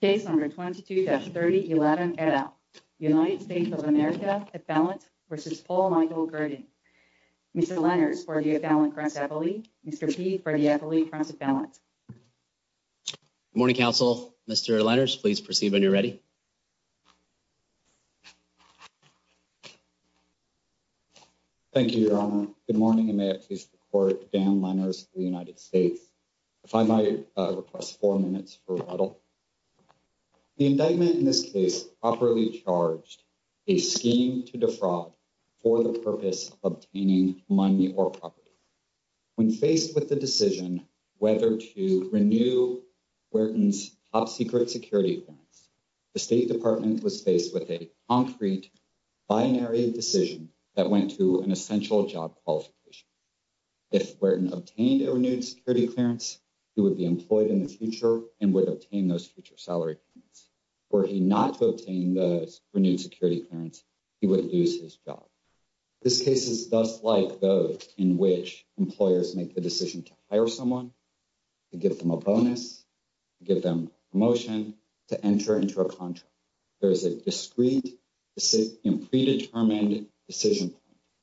Case number 22-30, 11 et al. United States of America appellant v. Paul Michael Guertin. Mr. Lenners for the appellant cross-appellate. Mr. Peay for the appellate cross-appellate. Good morning, counsel. Mr. Lenners, please proceed when you're ready. Thank you, your honor. Good morning, and may it please the court. Dan Lenners of the United States. If I might request four minutes for rebuttal. The indictment in this case properly charged a scheme to defraud for the purpose of obtaining money or property. When faced with the decision whether to renew Guertin's top-secret security clearance, the State Department was faced with a concrete binary decision that went to an essential job qualification. If Guertin obtained a renewed security clearance, he would be employed in the future and would obtain those future salary payments. Were he not to obtain the renewed security clearance, he would lose his job. This case is just like those in which employers make the decision to hire someone, to give them a bonus, to give them a promotion, to enter into a contract. There is a discreet and predetermined decision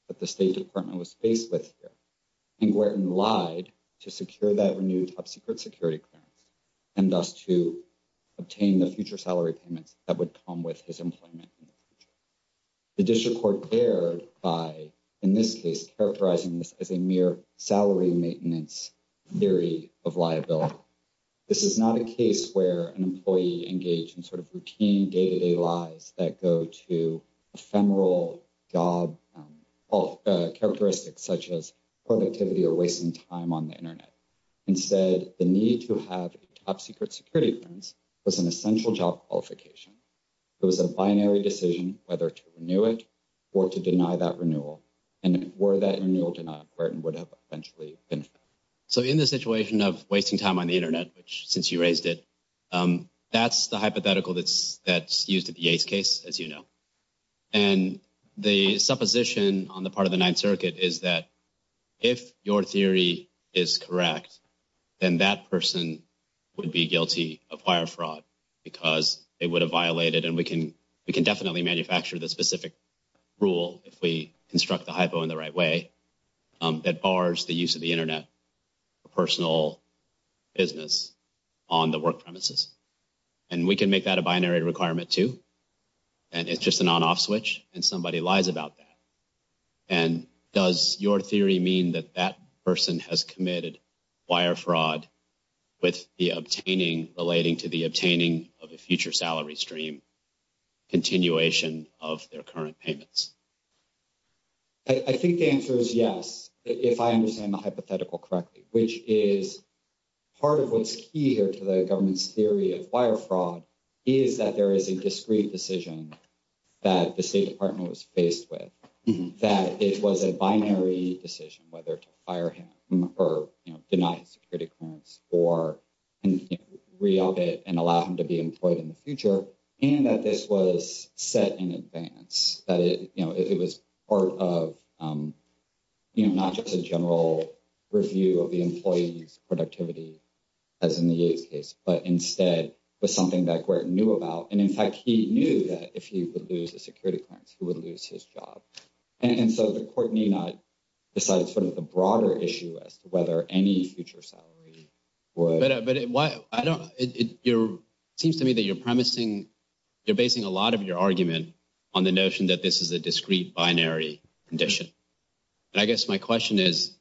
that the State Department was faced with here. Guertin lied to secure that renewed top-secret security clearance and thus to obtain the future salary payments that would come with his employment in the future. The district court dared by, in this case, characterizing this as a mere salary maintenance theory of liability. This is not a case where an employee engaged in sort of routine day-to-day lives that go to ephemeral job characteristics such as productivity or wasting time on the internet. Instead, the need to have a top-secret security clearance was an essential job qualification. It was a binary decision whether to renew it or to deny that renewal. And were that renewal denied, Guertin would have eventually been fired. So in the situation of wasting time on the internet, which since you raised it, that's the hypothetical that's used at the ACE case, as you know. And the supposition on the Ninth Circuit is that if your theory is correct, then that person would be guilty of wire fraud because it would have violated, and we can definitely manufacture the specific rule if we construct the hypo in the right way, that bars the use of the internet for personal business on the work premises. And we can make that a binary requirement, too. And it's just an on-off switch, and somebody lies about that. And does your theory mean that that person has committed wire fraud with the obtaining, relating to the obtaining of a future salary stream, continuation of their current payments? I think the answer is yes, if I understand the hypothetical correctly, which is part of what's key here to the government's theory of wire fraud, is that there is a discrete decision that the State Department was faced with. That it was a binary decision whether to fire him or deny his security clearance or re-up it and allow him to be employed in the future. And that this was set in advance, that it was part of not just a general review of the employee's productivity, as in the Yates case, but instead was something that Gwert knew about. And in fact, he knew that if he would lose the security clearance, he would lose his job. And so the court need not decide sort of the broader issue as to whether any future salary would. But it seems to me that you're promising, you're basing a lot of your argument on the notion that this is a discrete binary condition. And I guess my question is,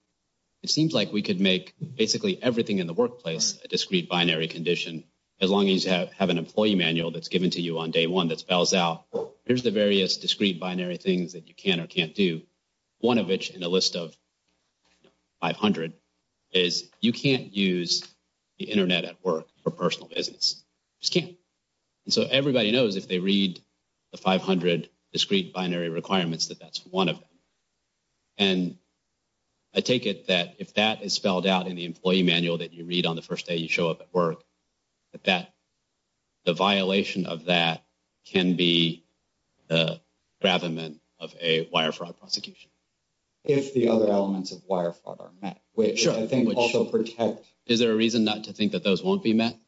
it seems like we could make basically everything in the workplace a discrete binary condition, as long as you have an employee manual that's given to you on day one that spells out, here's the various discrete binary things that you can or can't do. One of which, in a list of 500, is you can't use the internet at work for personal business. Just can't. And so everybody knows if they read the 500 discrete binary requirements that that's one of them. And I take it that if that is spelled out in the employee manual that you read on the first day you show up at work, that the violation of that can be the gravamen of a wire fraud prosecution. If the other elements of wire fraud are met, which I think also protect. Is there a reason not to think that those won't be met?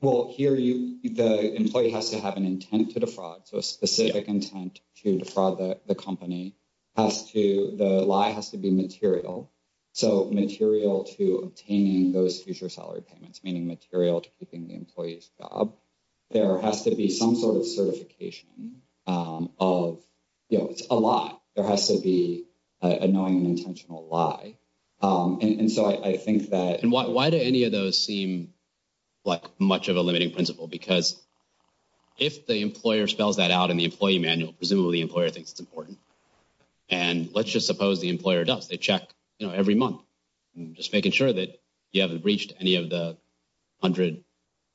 Well, here the employee has to have an intent to defraud. So a specific intent to defraud the company has to, the lie has to be material. So material to obtaining those future salary payments, meaning material to keeping the employee's job. There has to be some sort of certification of, you know, it's a lie. There has to be a knowing and intentional lie. And so I think that... And why do any of those seem like much of a limiting principle? Because if the employer spells that out in the employee manual, presumably the employer thinks it's important. And let's just suppose the employer does. They check, you know, every month, just making sure that you haven't breached any of the 100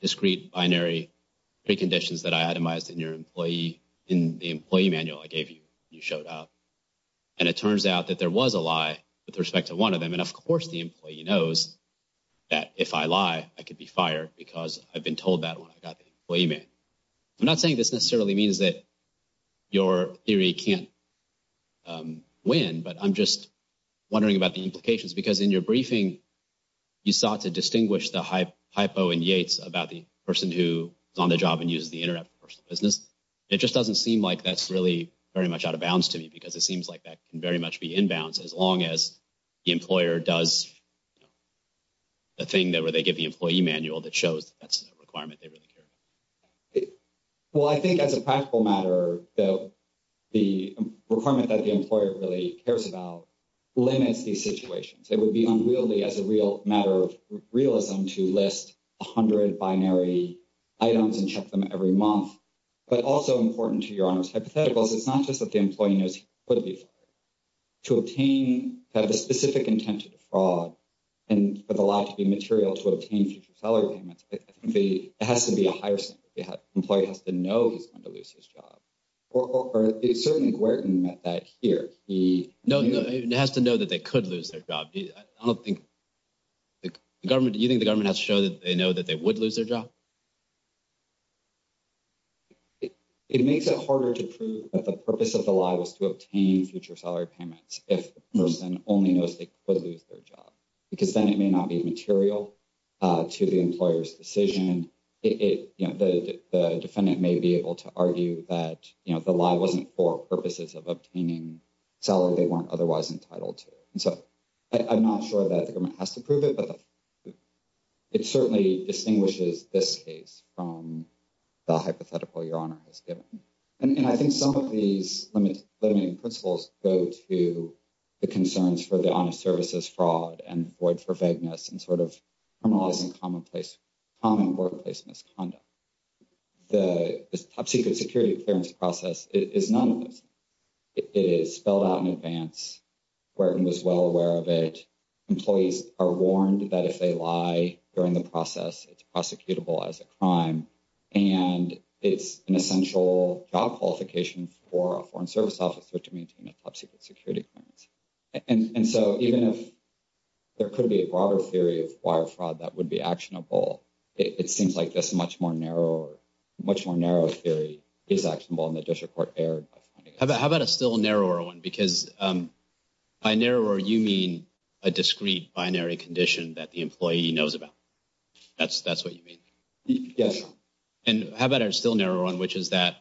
discrete binary preconditions that I itemized in your employee, in the employee manual I gave you, you showed up. And it turns out that there was a lie with respect to one of them. And of course the employee knows that if I lie, I could be fired because I've been told that when I got the employee manual. I'm not saying this necessarily means that your theory can't win, but I'm just wondering about the implications. Because in your briefing, you sought to distinguish the hypo in Yates about the person who is on the job and uses the internet for personal business. It just doesn't seem like that's really very much out of bounds to me because it seems like that can very much be in bounds as long as the employer does, you know, the thing that where they give the employee manual that shows that's a requirement they really care about. Well, I think as a practical matter that the requirement that the employer really cares about limits these situations. It would be unreal as a real matter of realism to list 100 binary items and check them every month. But also important to Your Honor's hypotheticals, it's not just that the employee knows he could be fired. To obtain, to have the specific intent to defraud, and for the lie to be material to obtain future salary payments, it has to be a higher standard. The employee has to know he's going to lose his job. Or certainly, Guertin met that here. No, it has to know that they could lose their job. You think the government has to show that they know that they would lose their job? It makes it harder to prove that the purpose of the lie was to obtain future salary payments if the person only knows they could lose their job. Because then it may not be material to the employer's decision. The defendant may be able to argue that the lie wasn't for purposes of obtaining salary they weren't otherwise entitled to. And so I'm not sure that the government has to prove it, but it certainly distinguishes this case from the hypothetical Your Honor has given. And I think some of these limiting principles go to the concerns for the honest services fraud and fraud for vagueness and sort of criminalizing common workplace misconduct. The top secret security clearance process is none of this. It is spelled out in advance. Guertin was well aware of it. Employees are warned that if they lie during the process, it's prosecutable as a crime. And it's an essential job qualification for a foreign service officer to maintain a top secret security clearance. And so even if there could be a broader theory of wire fraud that would be actionable, it seems like this much more narrow theory is actionable and the district court erred. How about a still narrower one? Because by narrower you mean a discrete binary condition that the employee knows about. That's what you mean? Yes. And how about a still narrower one, which is that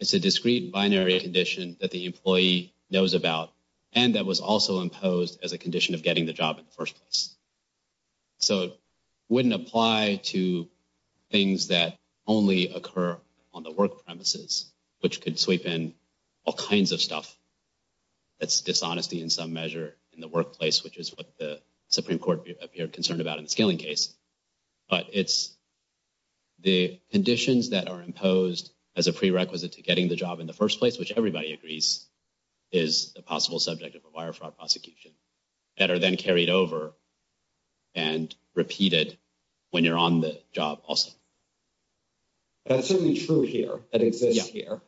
it's a discrete binary condition that the employee knows about and that was also imposed as a condition of getting the job in the first place. So it wouldn't apply to things that only occur on the work premises, which could sweep in all kinds of stuff. That's dishonesty in some measure in the workplace, which is what the Supreme Court appeared concerned about in the scaling case. But it's the conditions that are imposed as a prerequisite to getting the job in the first place, which everybody agrees is a possible subject of a wire fraud prosecution that are then carried over and repeated when you're on the job also. That's certainly true here. That exists here.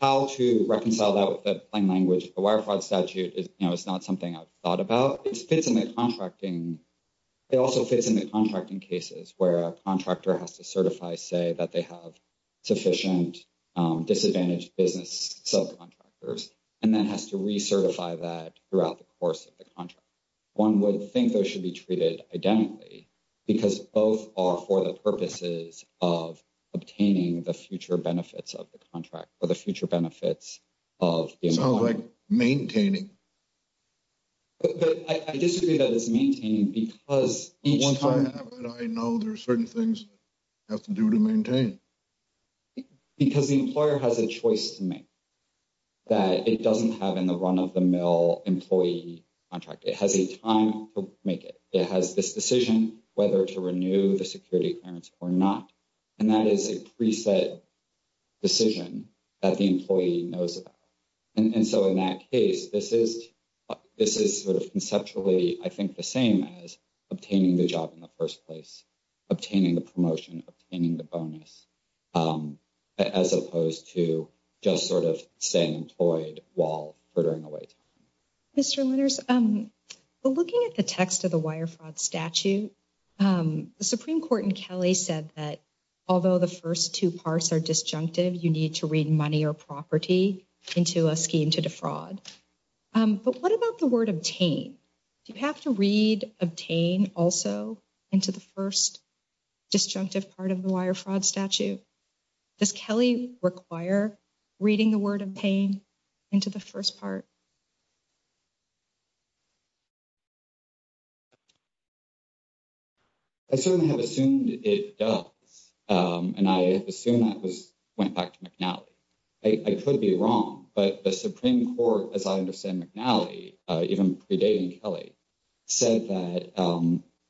How to reconcile that with the plain language of the wire fraud statute is not something I've thought about. It fits in the contracting. It also fits in the contracting cases where a contractor has to certify, say, that they have sufficient disadvantaged business subcontractors and then has to recertify that throughout the course of the contract. One would think those should be treated identically because both are for the purposes of obtaining the future benefits of the contract or the future benefits of the employer. Sounds like maintaining. But I disagree that it's maintaining because each time... Once I have it, I know there are certain things I have to do to maintain. Because the employer has a choice to make that it doesn't have in the run-of-the-mill employee contract. It has a time to make it. It has this decision whether to renew the security clearance or not. And that is a pre-set decision that the employee knows about. And so in that case, this is sort of conceptually, I think, the same as obtaining the job in the first place, obtaining the promotion, obtaining the bonus, as opposed to just sort of staying employed while furthering away time. Mr. Linners, looking at the text of the wire fraud statute, the Supreme Court in Kelly said that although the first two parts are disjunctive, you need to read money or property into a scheme to defraud. But what about the word obtain? Do you have to read obtain also into the first disjunctive part of the wire fraud statute? Does Kelly require reading the word obtain into the first part? I certainly have assumed it does. And I have assumed that went back to McNally. I could be wrong. But the Supreme Court, as I understand McNally, even predating Kelly, said that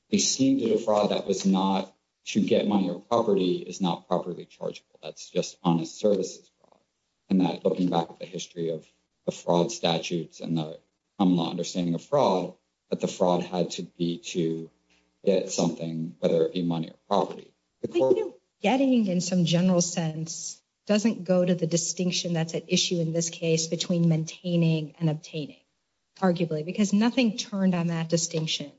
the scheme to defraud that was not to get money or property is not properly chargeable. That's just services fraud. And looking back at the history of the fraud statutes and the common understanding of fraud, that the fraud had to be to get something, whether it be money or property. Getting, in some general sense, doesn't go to the distinction that's at issue in this case between maintaining and obtaining, arguably, because nothing turned on that distinction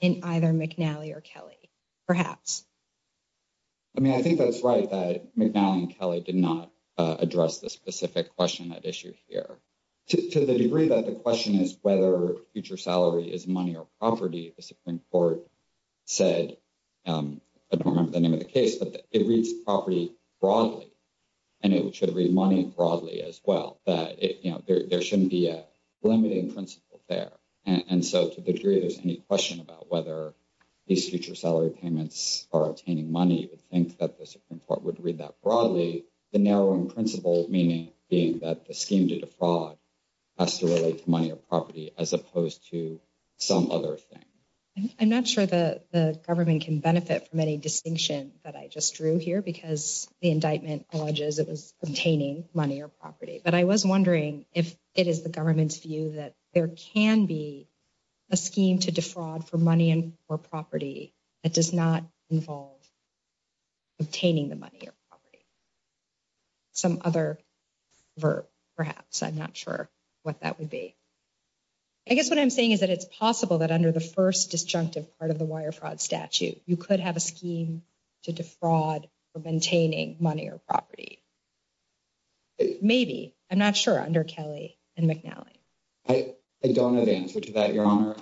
in either McNally or Kelly, perhaps. I mean, I think that's right that McNally and Kelly did not address the specific question at issue here. To the degree that the question is whether future salary is money or property, the Supreme Court said, I don't remember the name of the case, but it reads property broadly. And it should read money broadly as well, that there shouldn't be a limiting principle there. And so to the degree there's any question about whether these future salary payments are obtaining money, you would think that the Supreme Court would read that broadly. The narrowing principle meaning being that the scheme to defraud has to relate to money or property as opposed to some other thing. I'm not sure that the government can benefit from any distinction that I just drew here, because the indictment alleges it was obtaining money or property. But I was wondering if it the government's view that there can be a scheme to defraud for money or property that does not involve obtaining the money or property. Some other verb, perhaps. I'm not sure what that would be. I guess what I'm saying is that it's possible that under the first disjunctive part of the wire fraud statute, you could have a scheme to defraud for maintaining money or property. Maybe. I'm not sure under Kelly and McNally. I don't know the answer to that, Your Honor.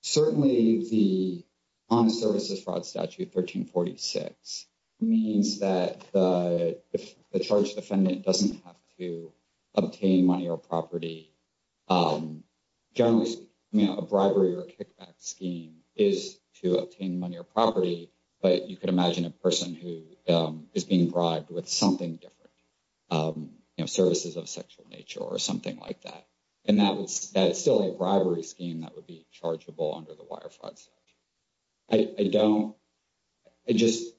Certainly, the Honest Services Fraud Statute 1346 means that the charged defendant doesn't have to obtain money or property. Generally, a bribery or kickback scheme is to obtain money or property, but you could imagine a person who is being bribed with something different, you know, services of sexual nature or something like that. And that is still a bribery scheme that would be chargeable under the wire fraud statute. I don't, I just,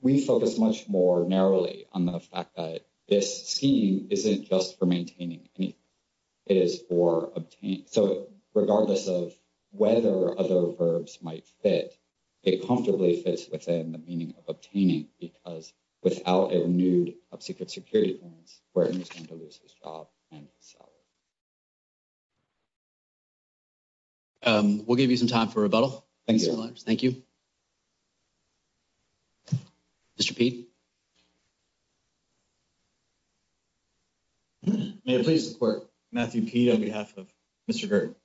we focus much more narrowly on the fact that this scheme isn't just for maintaining anything. It is for obtaining. So, regardless of whether other verbs might fit, it comfortably fits within the meaning of obtaining because without a renewed upsecret security clearance, Burton is going to lose his job and his salary. We'll give you some time for rebuttal. Thank you. Thank you. Mr. Pede. May I please support Matthew Pede on behalf of Mr. Girt?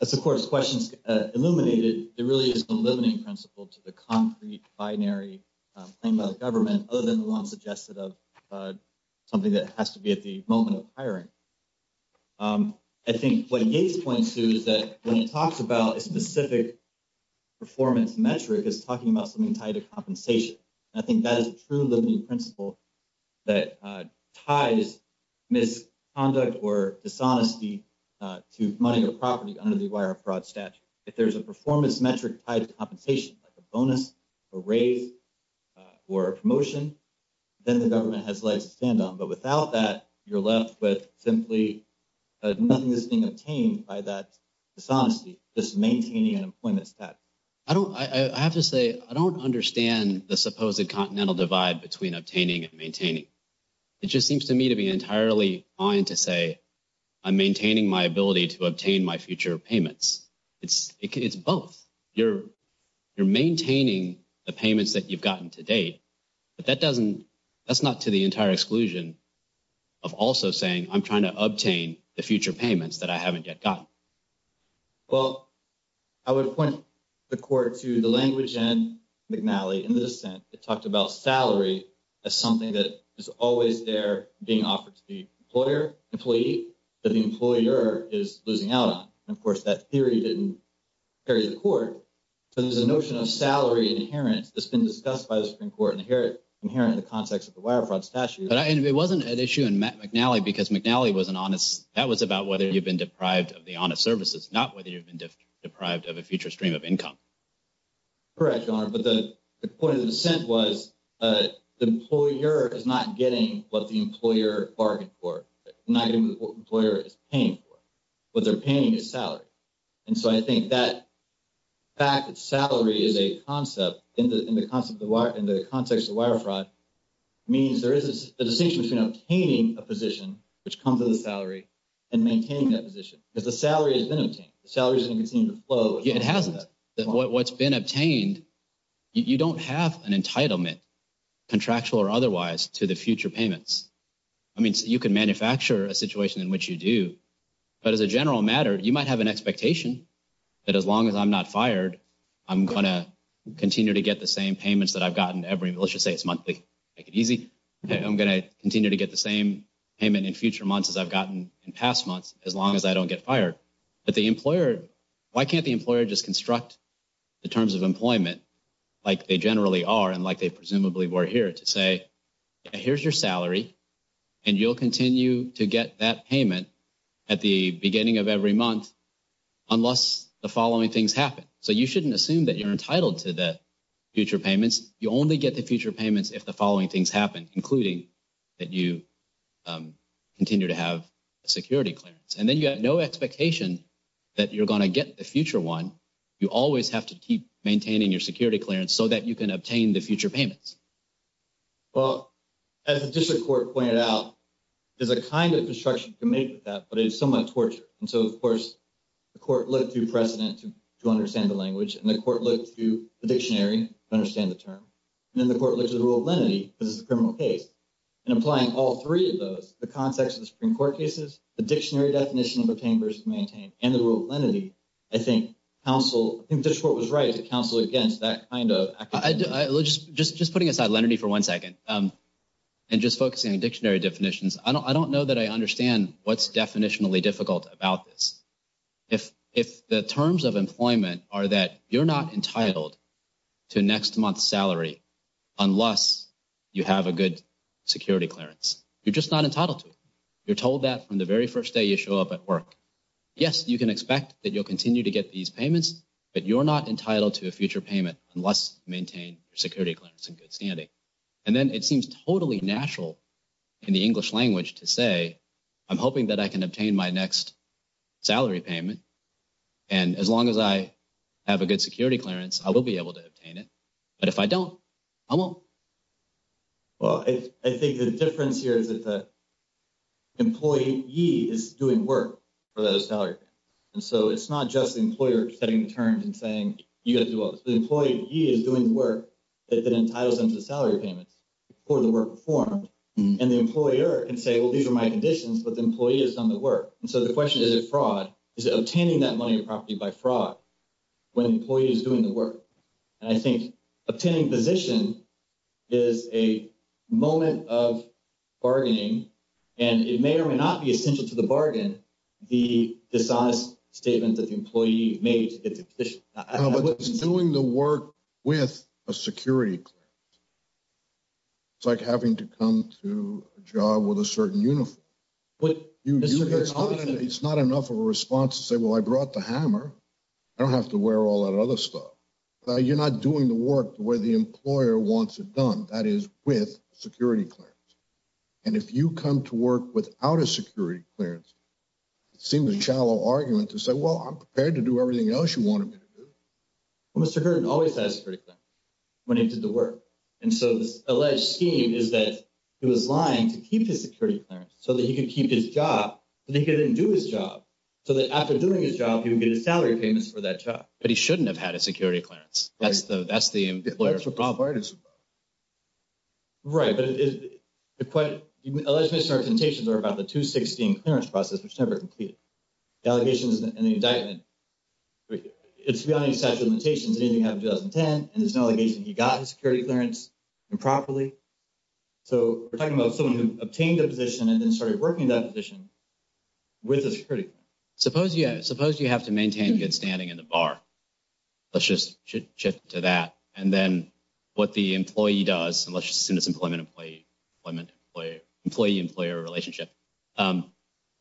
As the Court's questions illuminated, there really is no limiting principle to the concrete binary claimed by the government other than the one suggested of something that has to be at the moment of hiring. I think what Yates points to is that when it talks about a specific performance metric, it's talking about something tied to compensation. I think that is a true limiting principle that ties misconduct or dishonesty to money or property under the wire fraud statute. If there's a performance metric tied to compensation, like a bonus, a raise, or a promotion, then the government has legs to stand on. But without that, you're left with simply nothing that's being obtained by that dishonesty, just maintaining an employment status. I have to say, I don't understand the supposed continental divide between obtaining and maintaining. It just seems to me to be entirely fine to say I'm maintaining my ability to obtain my future payments. It's both. You're maintaining the payments that you've gotten to date, but that's not to the entire exclusion of also saying I'm trying to obtain the future payments that I haven't yet gotten. Well, I would point the court to the language in McNally in the dissent. It talked about salary as something that is always there being offered to the employer, employee, that the employer is losing out on. And of course, that theory didn't carry the court. So there's a notion of salary inherent that's been discussed by the Supreme Court inherent in the context of the wire fraud statute. But it wasn't an issue in McNally because McNally wasn't honest. That was about whether you've been deprived of the honest services, not whether you've been deprived of a future stream of income. Correct, Your Honor. But the point of the dissent was the employer is not getting what the employer bargained for. Not getting what the employer is paying for. What they're paying is salary. And so I think that fact that salary is a concept in the context of wire fraud means there is a distinction between obtaining a position, which comes with a salary, and maintaining that position. Because the salary has been obtained. The salary is going to continue to flow. It hasn't. What's been obtained, you don't have an entitlement, contractual or otherwise, to the future payments. I mean, you can manufacture a situation in which you do. But as a general matter, you might have an expectation that as long as I'm not fired, I'm going to continue to get the same payments that I've gotten every, let's just say it's monthly. Make it easy. I'm going to continue to get the same payment in future months as I've in past months, as long as I don't get fired. But the employer, why can't the employer just construct the terms of employment like they generally are and like they presumably were here to say, here's your salary and you'll continue to get that payment at the beginning of every month unless the following things happen. So you shouldn't assume that you're entitled to the future payments. You only get the future payments if the following things happen, including that you continue to have a security clearance. And then you have no expectation that you're going to get the future one. You always have to keep maintaining your security clearance so that you can obtain the future payments. Well, as the district court pointed out, there's a kind of construction committed to that, but it is somewhat torture. And so, of course, the court looked through precedent to understand the language and the court looked through the dictionary to understand the term. And then the applying all three of those, the context of the Supreme Court cases, the dictionary definition of obtain versus maintain, and the rule of lenity, I think council, I think the court was right to counsel against that kind of. Just putting aside lenity for one second and just focusing on dictionary definitions, I don't know that I understand what's definitionally difficult about this. If the terms of employment are that you're not entitled to next month's salary unless you have a good security clearance, you're just not entitled to it. You're told that from the very first day you show up at work. Yes, you can expect that you'll continue to get these payments, but you're not entitled to a future payment unless you maintain your security clearance in good standing. And then it seems totally natural in the English language to say, I'm hoping that I can obtain my next salary payment. And as long as I have a good security clearance, I will be able to obtain it. But if I don't, I won't. Well, I think the difference here is that the employee is doing work for those salary payments. And so it's not just the employer setting the terms and saying, you got to do all this. The employee is doing the work that entitles them to the salary payments before the work performed. And the employer can say, well, these are my conditions, but the employee has done the work. And so the question, is it fraud? Is it obtaining that money or property by fraud when the employee is doing the work? And I think obtaining position is a moment of bargaining. And it may or may not be essential to the bargain, the dishonest statement that the employee made to get the position. No, but it's doing the work with a security clearance. It's like having to come to a job with a certain uniform. It's not enough of a response to say, well, I brought the hammer. I don't have to wear all that other stuff. You're not doing the work the way the employer wants it done. That is with security clearance. And if you come to work without a security clearance, it seems a shallow argument to say, well, I'm prepared to do everything else you wanted me to do. Well, Mr. Hurd always has security clearance when he did the work. And so this alleged scheme is that he was lying to keep his security clearance so that he could keep his job, but he couldn't do his job. So that after doing his job, he would get his salary payments for that job. But he shouldn't have had a security clearance. That's the, that's the employer. That's what Bob Barton's about. Right. But it, the alleged misrepresentations are about the 2016 clearance process, which never completed. The allegations and the indictment, it's beyond any statute of limitations, anything happened in 2010, and it's an allegation he got security clearance improperly. So we're talking about someone who obtained a position and then started working in that position with a security clearance. Suppose, yeah, suppose you have to maintain good standing in the bar. Let's just shift to that. And then what the employee does, and let's just assume it's an employee-employee, employee-employee-employee relationship.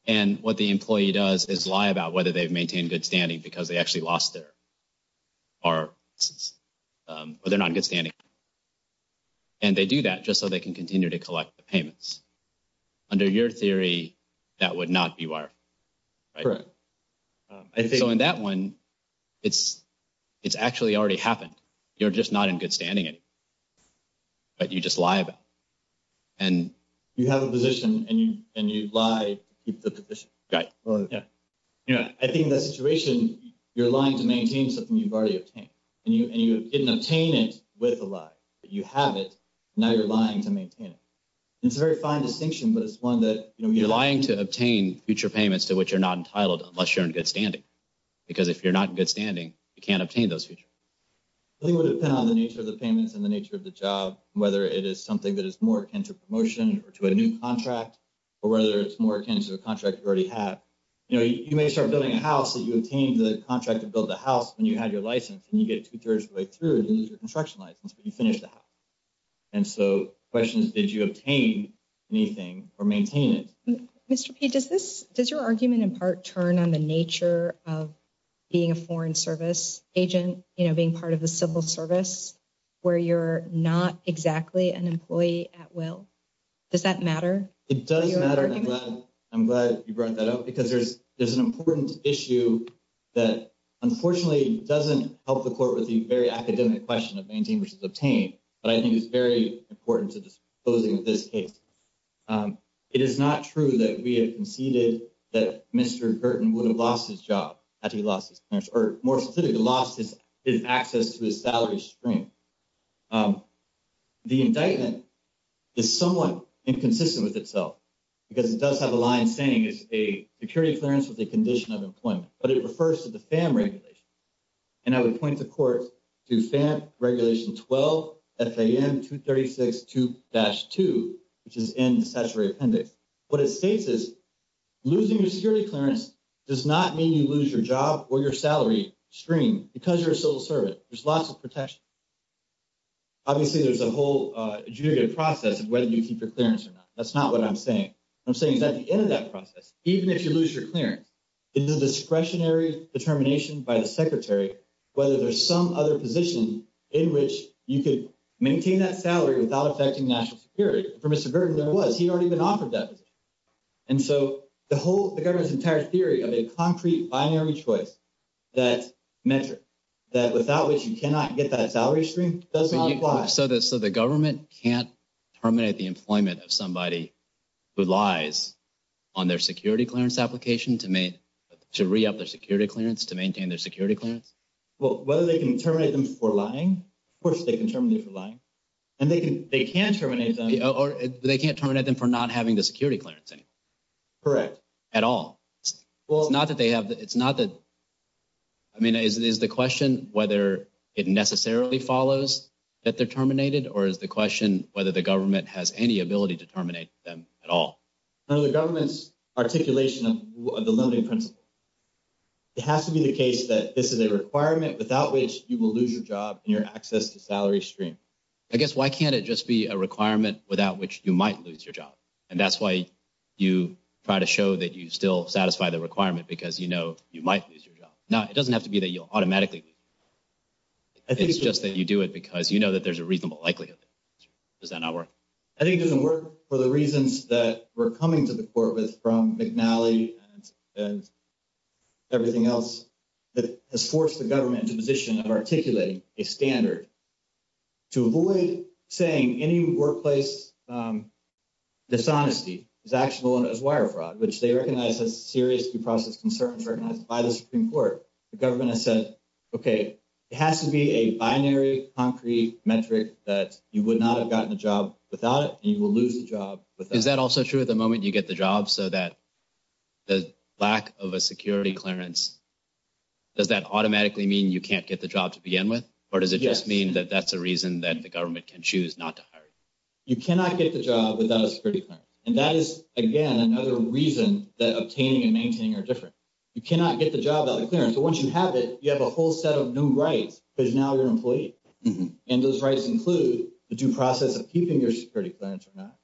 And what the employee does is lie about whether they've maintained good standing because they aren't in good standing. And they do that just so they can continue to collect the payments. Under your theory, that would not be where you are. Correct. So in that one, it's, it's actually already happened. You're just not in good standing anymore. But you just lie about it. And you have a position and you lie to keep the position. Right. Yeah. Yeah. I think in that situation, you're lying to maintain something you've already obtained. And you didn't obtain it with a lie, but you have it. Now you're lying to maintain it. It's a very fine distinction, but it's one that, you know, you're lying to obtain future payments to which you're not entitled unless you're in good standing. Because if you're not in good standing, you can't obtain those future. I think it would depend on the nature of the payments and the nature of the job, whether it is something that is more akin to promotion or to a new contract, or whether it's more akin to a contract you already have. You know, you may start building a house that you obtained the contract to build the house when you had your license and you get it two-thirds of the way through, you lose your construction license, but you finish the house. And so the question is, did you obtain anything or maintain it? Mr. P, does this, does your argument in part turn on the nature of being a foreign service agent, you know, being part of the civil service where you're not exactly an employee at will? Does that matter? It does matter. I'm glad, you brought that up because there's, there's an important issue that unfortunately doesn't help the court with the very academic question of maintain versus obtain, but I think it's very important to disclose in this case. It is not true that we had conceded that Mr. Burton would have lost his job after he lost his parents, or more specifically lost his access to his salary stream. The indictment is somewhat inconsistent with itself because it does have a line saying security clearance with a condition of employment, but it refers to the FAM regulation. And I would point the court to FAM regulation 12, FAM 236-2, which is in the statutory appendix. What it states is losing your security clearance does not mean you lose your job or your salary stream because you're a civil servant. There's lots of protection. Obviously, there's a whole adjudicated process of whether you keep your clearance or not. That's not what I'm saying. I'm saying at the end of that process, even if you lose your clearance, it's a discretionary determination by the secretary, whether there's some other position in which you could maintain that salary without affecting national security. For Mr. Burton, there was, he'd already been offered that position. And so the whole, the government's entire theory of a concrete binary choice that metric, that without which you cannot get that salary stream does not apply. So the government can't terminate the employment of somebody who lies on their security clearance application to make, to re-up their security clearance, to maintain their security clearance? Well, whether they can terminate them for lying, of course they can terminate them for lying. And they can, they can terminate them or they can't terminate them for not having the security clearance anymore. Correct. At all. Well, it's not that they have, it's not that, I mean, is the question whether it necessarily follows that they're terminated or is the question whether the government has any ability to terminate them at all? Under the government's articulation of the limiting principle, it has to be the case that this is a requirement without which you will lose your job and your access to salary stream. I guess, why can't it just be a requirement without which you might lose your job? And that's why you try to show that you still satisfy the requirement because you know you might lose your job. Now it doesn't have to be that you'll automatically lose your job. It's just that you do it because you know that there's a reasonable likelihood. Does that not work? I think it doesn't work for the reasons that we're coming to the court with from McNally and everything else that has forced the government into a position of articulating a standard to avoid saying any workplace dishonesty is actionable as wire fraud, which they recognize as serious due process concerns recognized by the Supreme Court. The government has said, okay, it has to be a binary concrete metric that you would not have gotten a job without it, and you will lose the job. Is that also true at the moment you get the job so that the lack of a security clearance, does that automatically mean you can't get the job to begin with? Or does it just mean that that's a reason that the government can choose not to hire you? You cannot get the job without a security clearance. And that is, again, another reason that obtaining and maintaining are different. You cannot get the job without a clearance, but once you have it, you have a whole set of new rights because now you're an employee. And those rights include the due process of keeping your security clearance or not.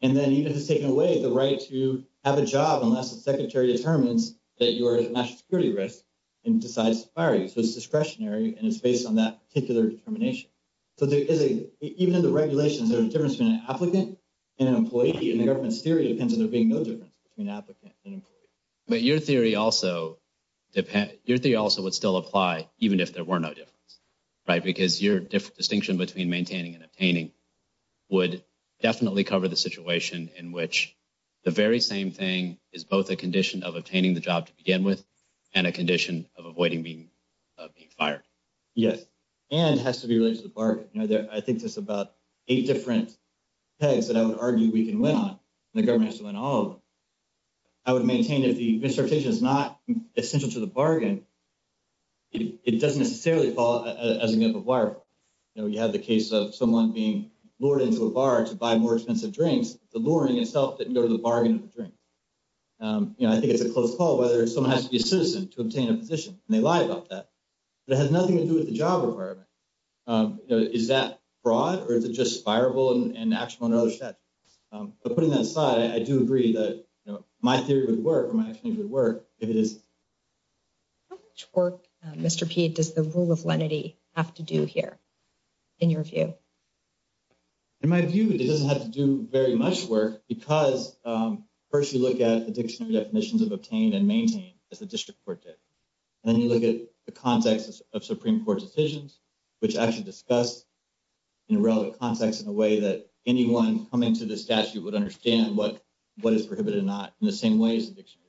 And then even if it's taken away, the right to have a job unless the secretary determines that you are at national security risk and decides to fire you. So it's discretionary, and it's based on that particular determination. So even in the regulations, there's a difference between an applicant and an employee, and the government's theory depends on there being no between applicant and employee. But your theory also would still apply even if there were no difference, right? Because your distinction between maintaining and obtaining would definitely cover the situation in which the very same thing is both a condition of obtaining the job to begin with and a condition of avoiding being fired. Yes. And it has to be related to the bargain. I think there's about eight different pegs that I would argue we can win on. The I would maintain if the transportation is not essential to the bargain, it doesn't necessarily fall as a wire. You know, you have the case of someone being lured into a bar to buy more expensive drinks. The luring itself didn't go to the bargain of the drink. I think it's a close call whether someone has to be a citizen to obtain a position, and they lie about that. It has nothing to do with the job requirement. Is that broad or is it just fireable and actionable under other statutes? But putting that aside, I do agree that my theory would work or my explanation would work if it is. How much work, Mr. Pede, does the rule of lenity have to do here in your view? In my view, it doesn't have to do very much work because first you look at the dictionary definitions of obtain and maintain as the district court did. And then you look at the context of Supreme Court decisions, which actually discuss in a relevant context in a way that anyone coming to the statute would understand what is prohibited or not in the same way as the dictionary.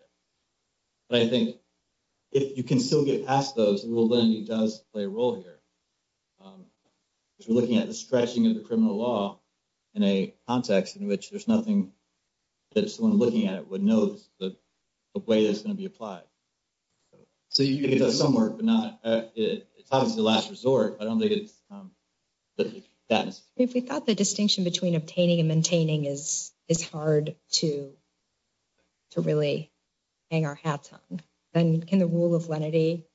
But I think if you can still get past those, the rule of lenity does play a role here. Because we're looking at the stretching of the criminal law in a context in which there's nothing that someone looking at it would know the way that it's going to be applied. So you can get to some work, but it's obviously the last resort. I don't think it's that. If we thought the distinction between obtaining and maintaining is hard to really hang our hats on, then can the rule of lenity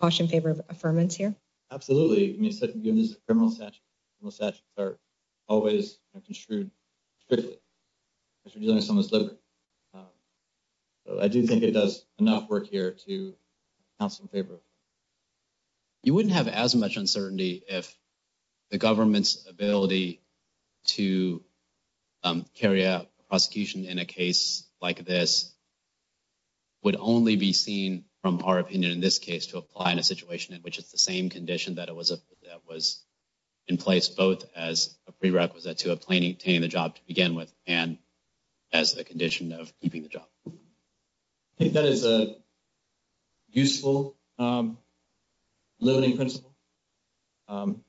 caution favor affirmance here? Absolutely. I mean, given this criminal statute, criminal statutes are always construed strictly. I do think it does enough work here to have some favor. You wouldn't have as much uncertainty if the government's ability to carry out prosecution in a case like this would only be seen from our opinion in this case to apply in a situation in which it's the same condition that was in place both as a prerequisite to obtaining the job to begin with and as the condition of keeping the job. I think that is a useful limiting principle. But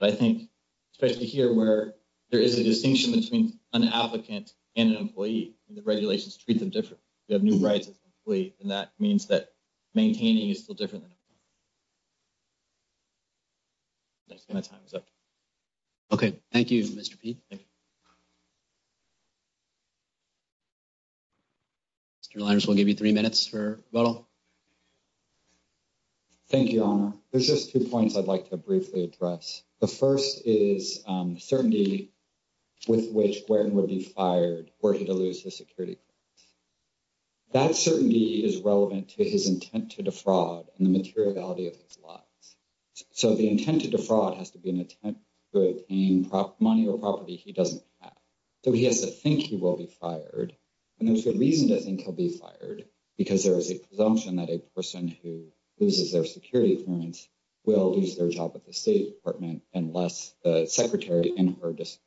I think especially here where there is a distinction between an applicant and an employee, the regulations treat them differently. You have new rights as an employee, and that means that maintaining is still different. My time is up. Okay, thank you, Mr. Pete. Thank you. Mr. Lyons, we'll give you three minutes for rebuttal. Thank you, Your Honor. There's just two points I'd like to briefly address. The first is certainty with which Guertin would be fired were he to lose his security clearance. That certainty is relevant to his intent to defraud and the materiality of his laws. So the intent to defraud has to be an attempt to obtain money or property he doesn't have. So he has to think he will be fired, and there's good reason to think he'll be fired, because there is a presumption that a person who loses their security clearance will lose their job at the State Department unless the secretary in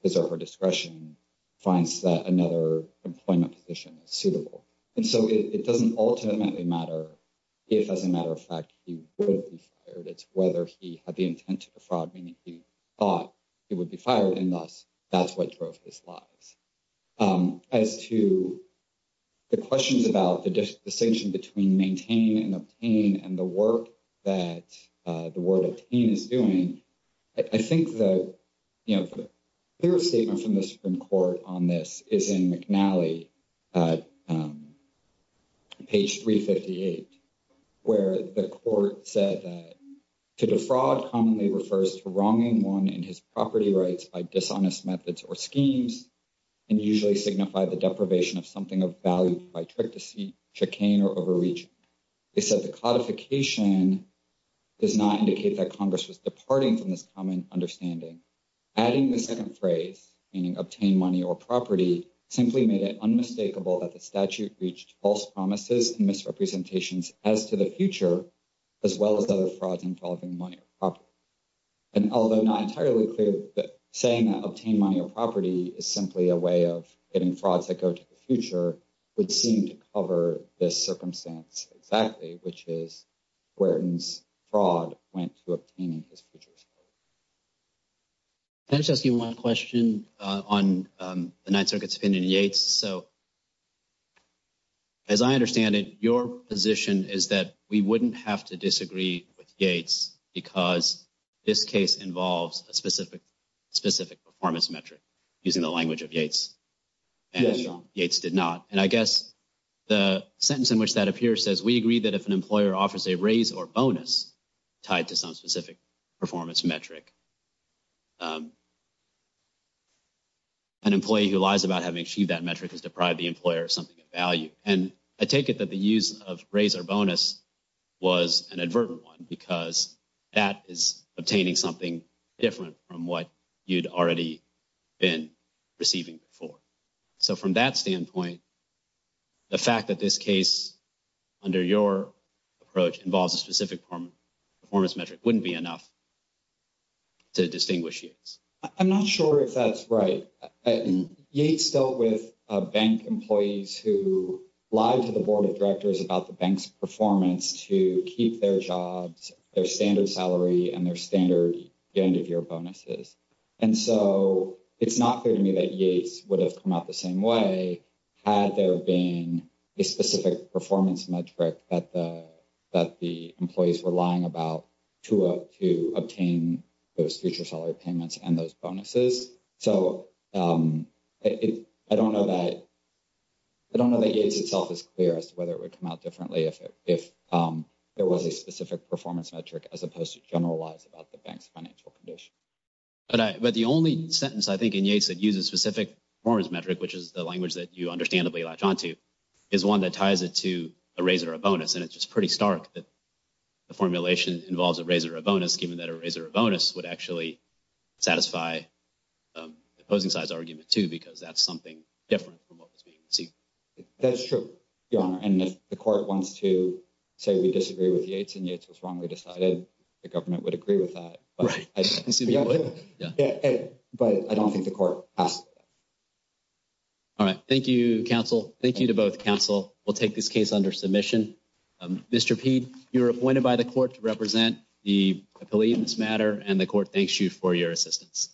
his or her discretion finds that another employment position is suitable. And so it doesn't ultimately matter if, as a matter of fact, he will be fired. It's whether he had the intent to defraud, meaning he thought he would be fired, and thus that's what drove his lies. As to the questions about the distinction between maintain and obtain and the work that the word obtain is doing, I think the, you know, the clear statement from the Supreme Court on this is in McNally at page 358, where the court said that to defraud commonly refers to wronging one in his property rights by dishonest methods or schemes and usually signify the deprivation of something of value by trick, deceit, chicane, or overreach. They said the codification does not indicate that Congress was departing from this common understanding. Adding the second phrase, meaning obtain money or property, simply made it unmistakable that the statute reached false promises and misrepresentations as to the future, as well as other frauds involving money or property. And although not entirely clear, saying that obtain money or property is simply a way of getting frauds that go to the future would seem to cover this circumstance exactly, which is Wharton's fraud went to obtaining his future. I was just asking one question on the Ninth Circuit's opinion in Yates. So as I understand it, your position is that we wouldn't have to disagree with Yates because this case involves a specific performance metric, using the language of Yates. And Yates did not. And I guess the sentence in which that appears says, we agree that if an employer offers a raise or bonus tied to some specific performance metric, an employee who lies about having achieved that metric has deprived the employer of something of value. And I take it that the use of raise or bonus was an advertent one because that is receiving before. So from that standpoint, the fact that this case under your approach involves a specific performance metric wouldn't be enough to distinguish Yates. I'm not sure if that's right. Yates dealt with bank employees who lied to the board of directors about the bank's performance to keep their jobs, their standard salary, and their standard end-of-year bonuses. And so it's not clear to me that Yates would have come out the same way had there been a specific performance metric that the employees were lying about to obtain those future salary payments and those bonuses. So I don't know that Yates itself is clear as to whether it would come out differently if there was a specific performance metric, as opposed to generalize about the bank's financial condition. But the only sentence I think in Yates that uses specific performance metric, which is the language that you understandably latch onto, is one that ties it to a raise or a bonus. And it's just pretty stark that the formulation involves a raise or a bonus, given that a raise or a bonus would actually satisfy the opposing side's argument too, because that's something different from what was being received. That's true, Your Honor. And if the court wants to say we disagree with Yates and Yates was wrongly decided, the government would agree with that. Right. But I don't think the court has to. All right. Thank you, counsel. Thank you to both counsel. We'll take this case under submission. Mr. Pede, you're appointed by the court to represent the appealee in this matter, and the court thanks you for your assistance.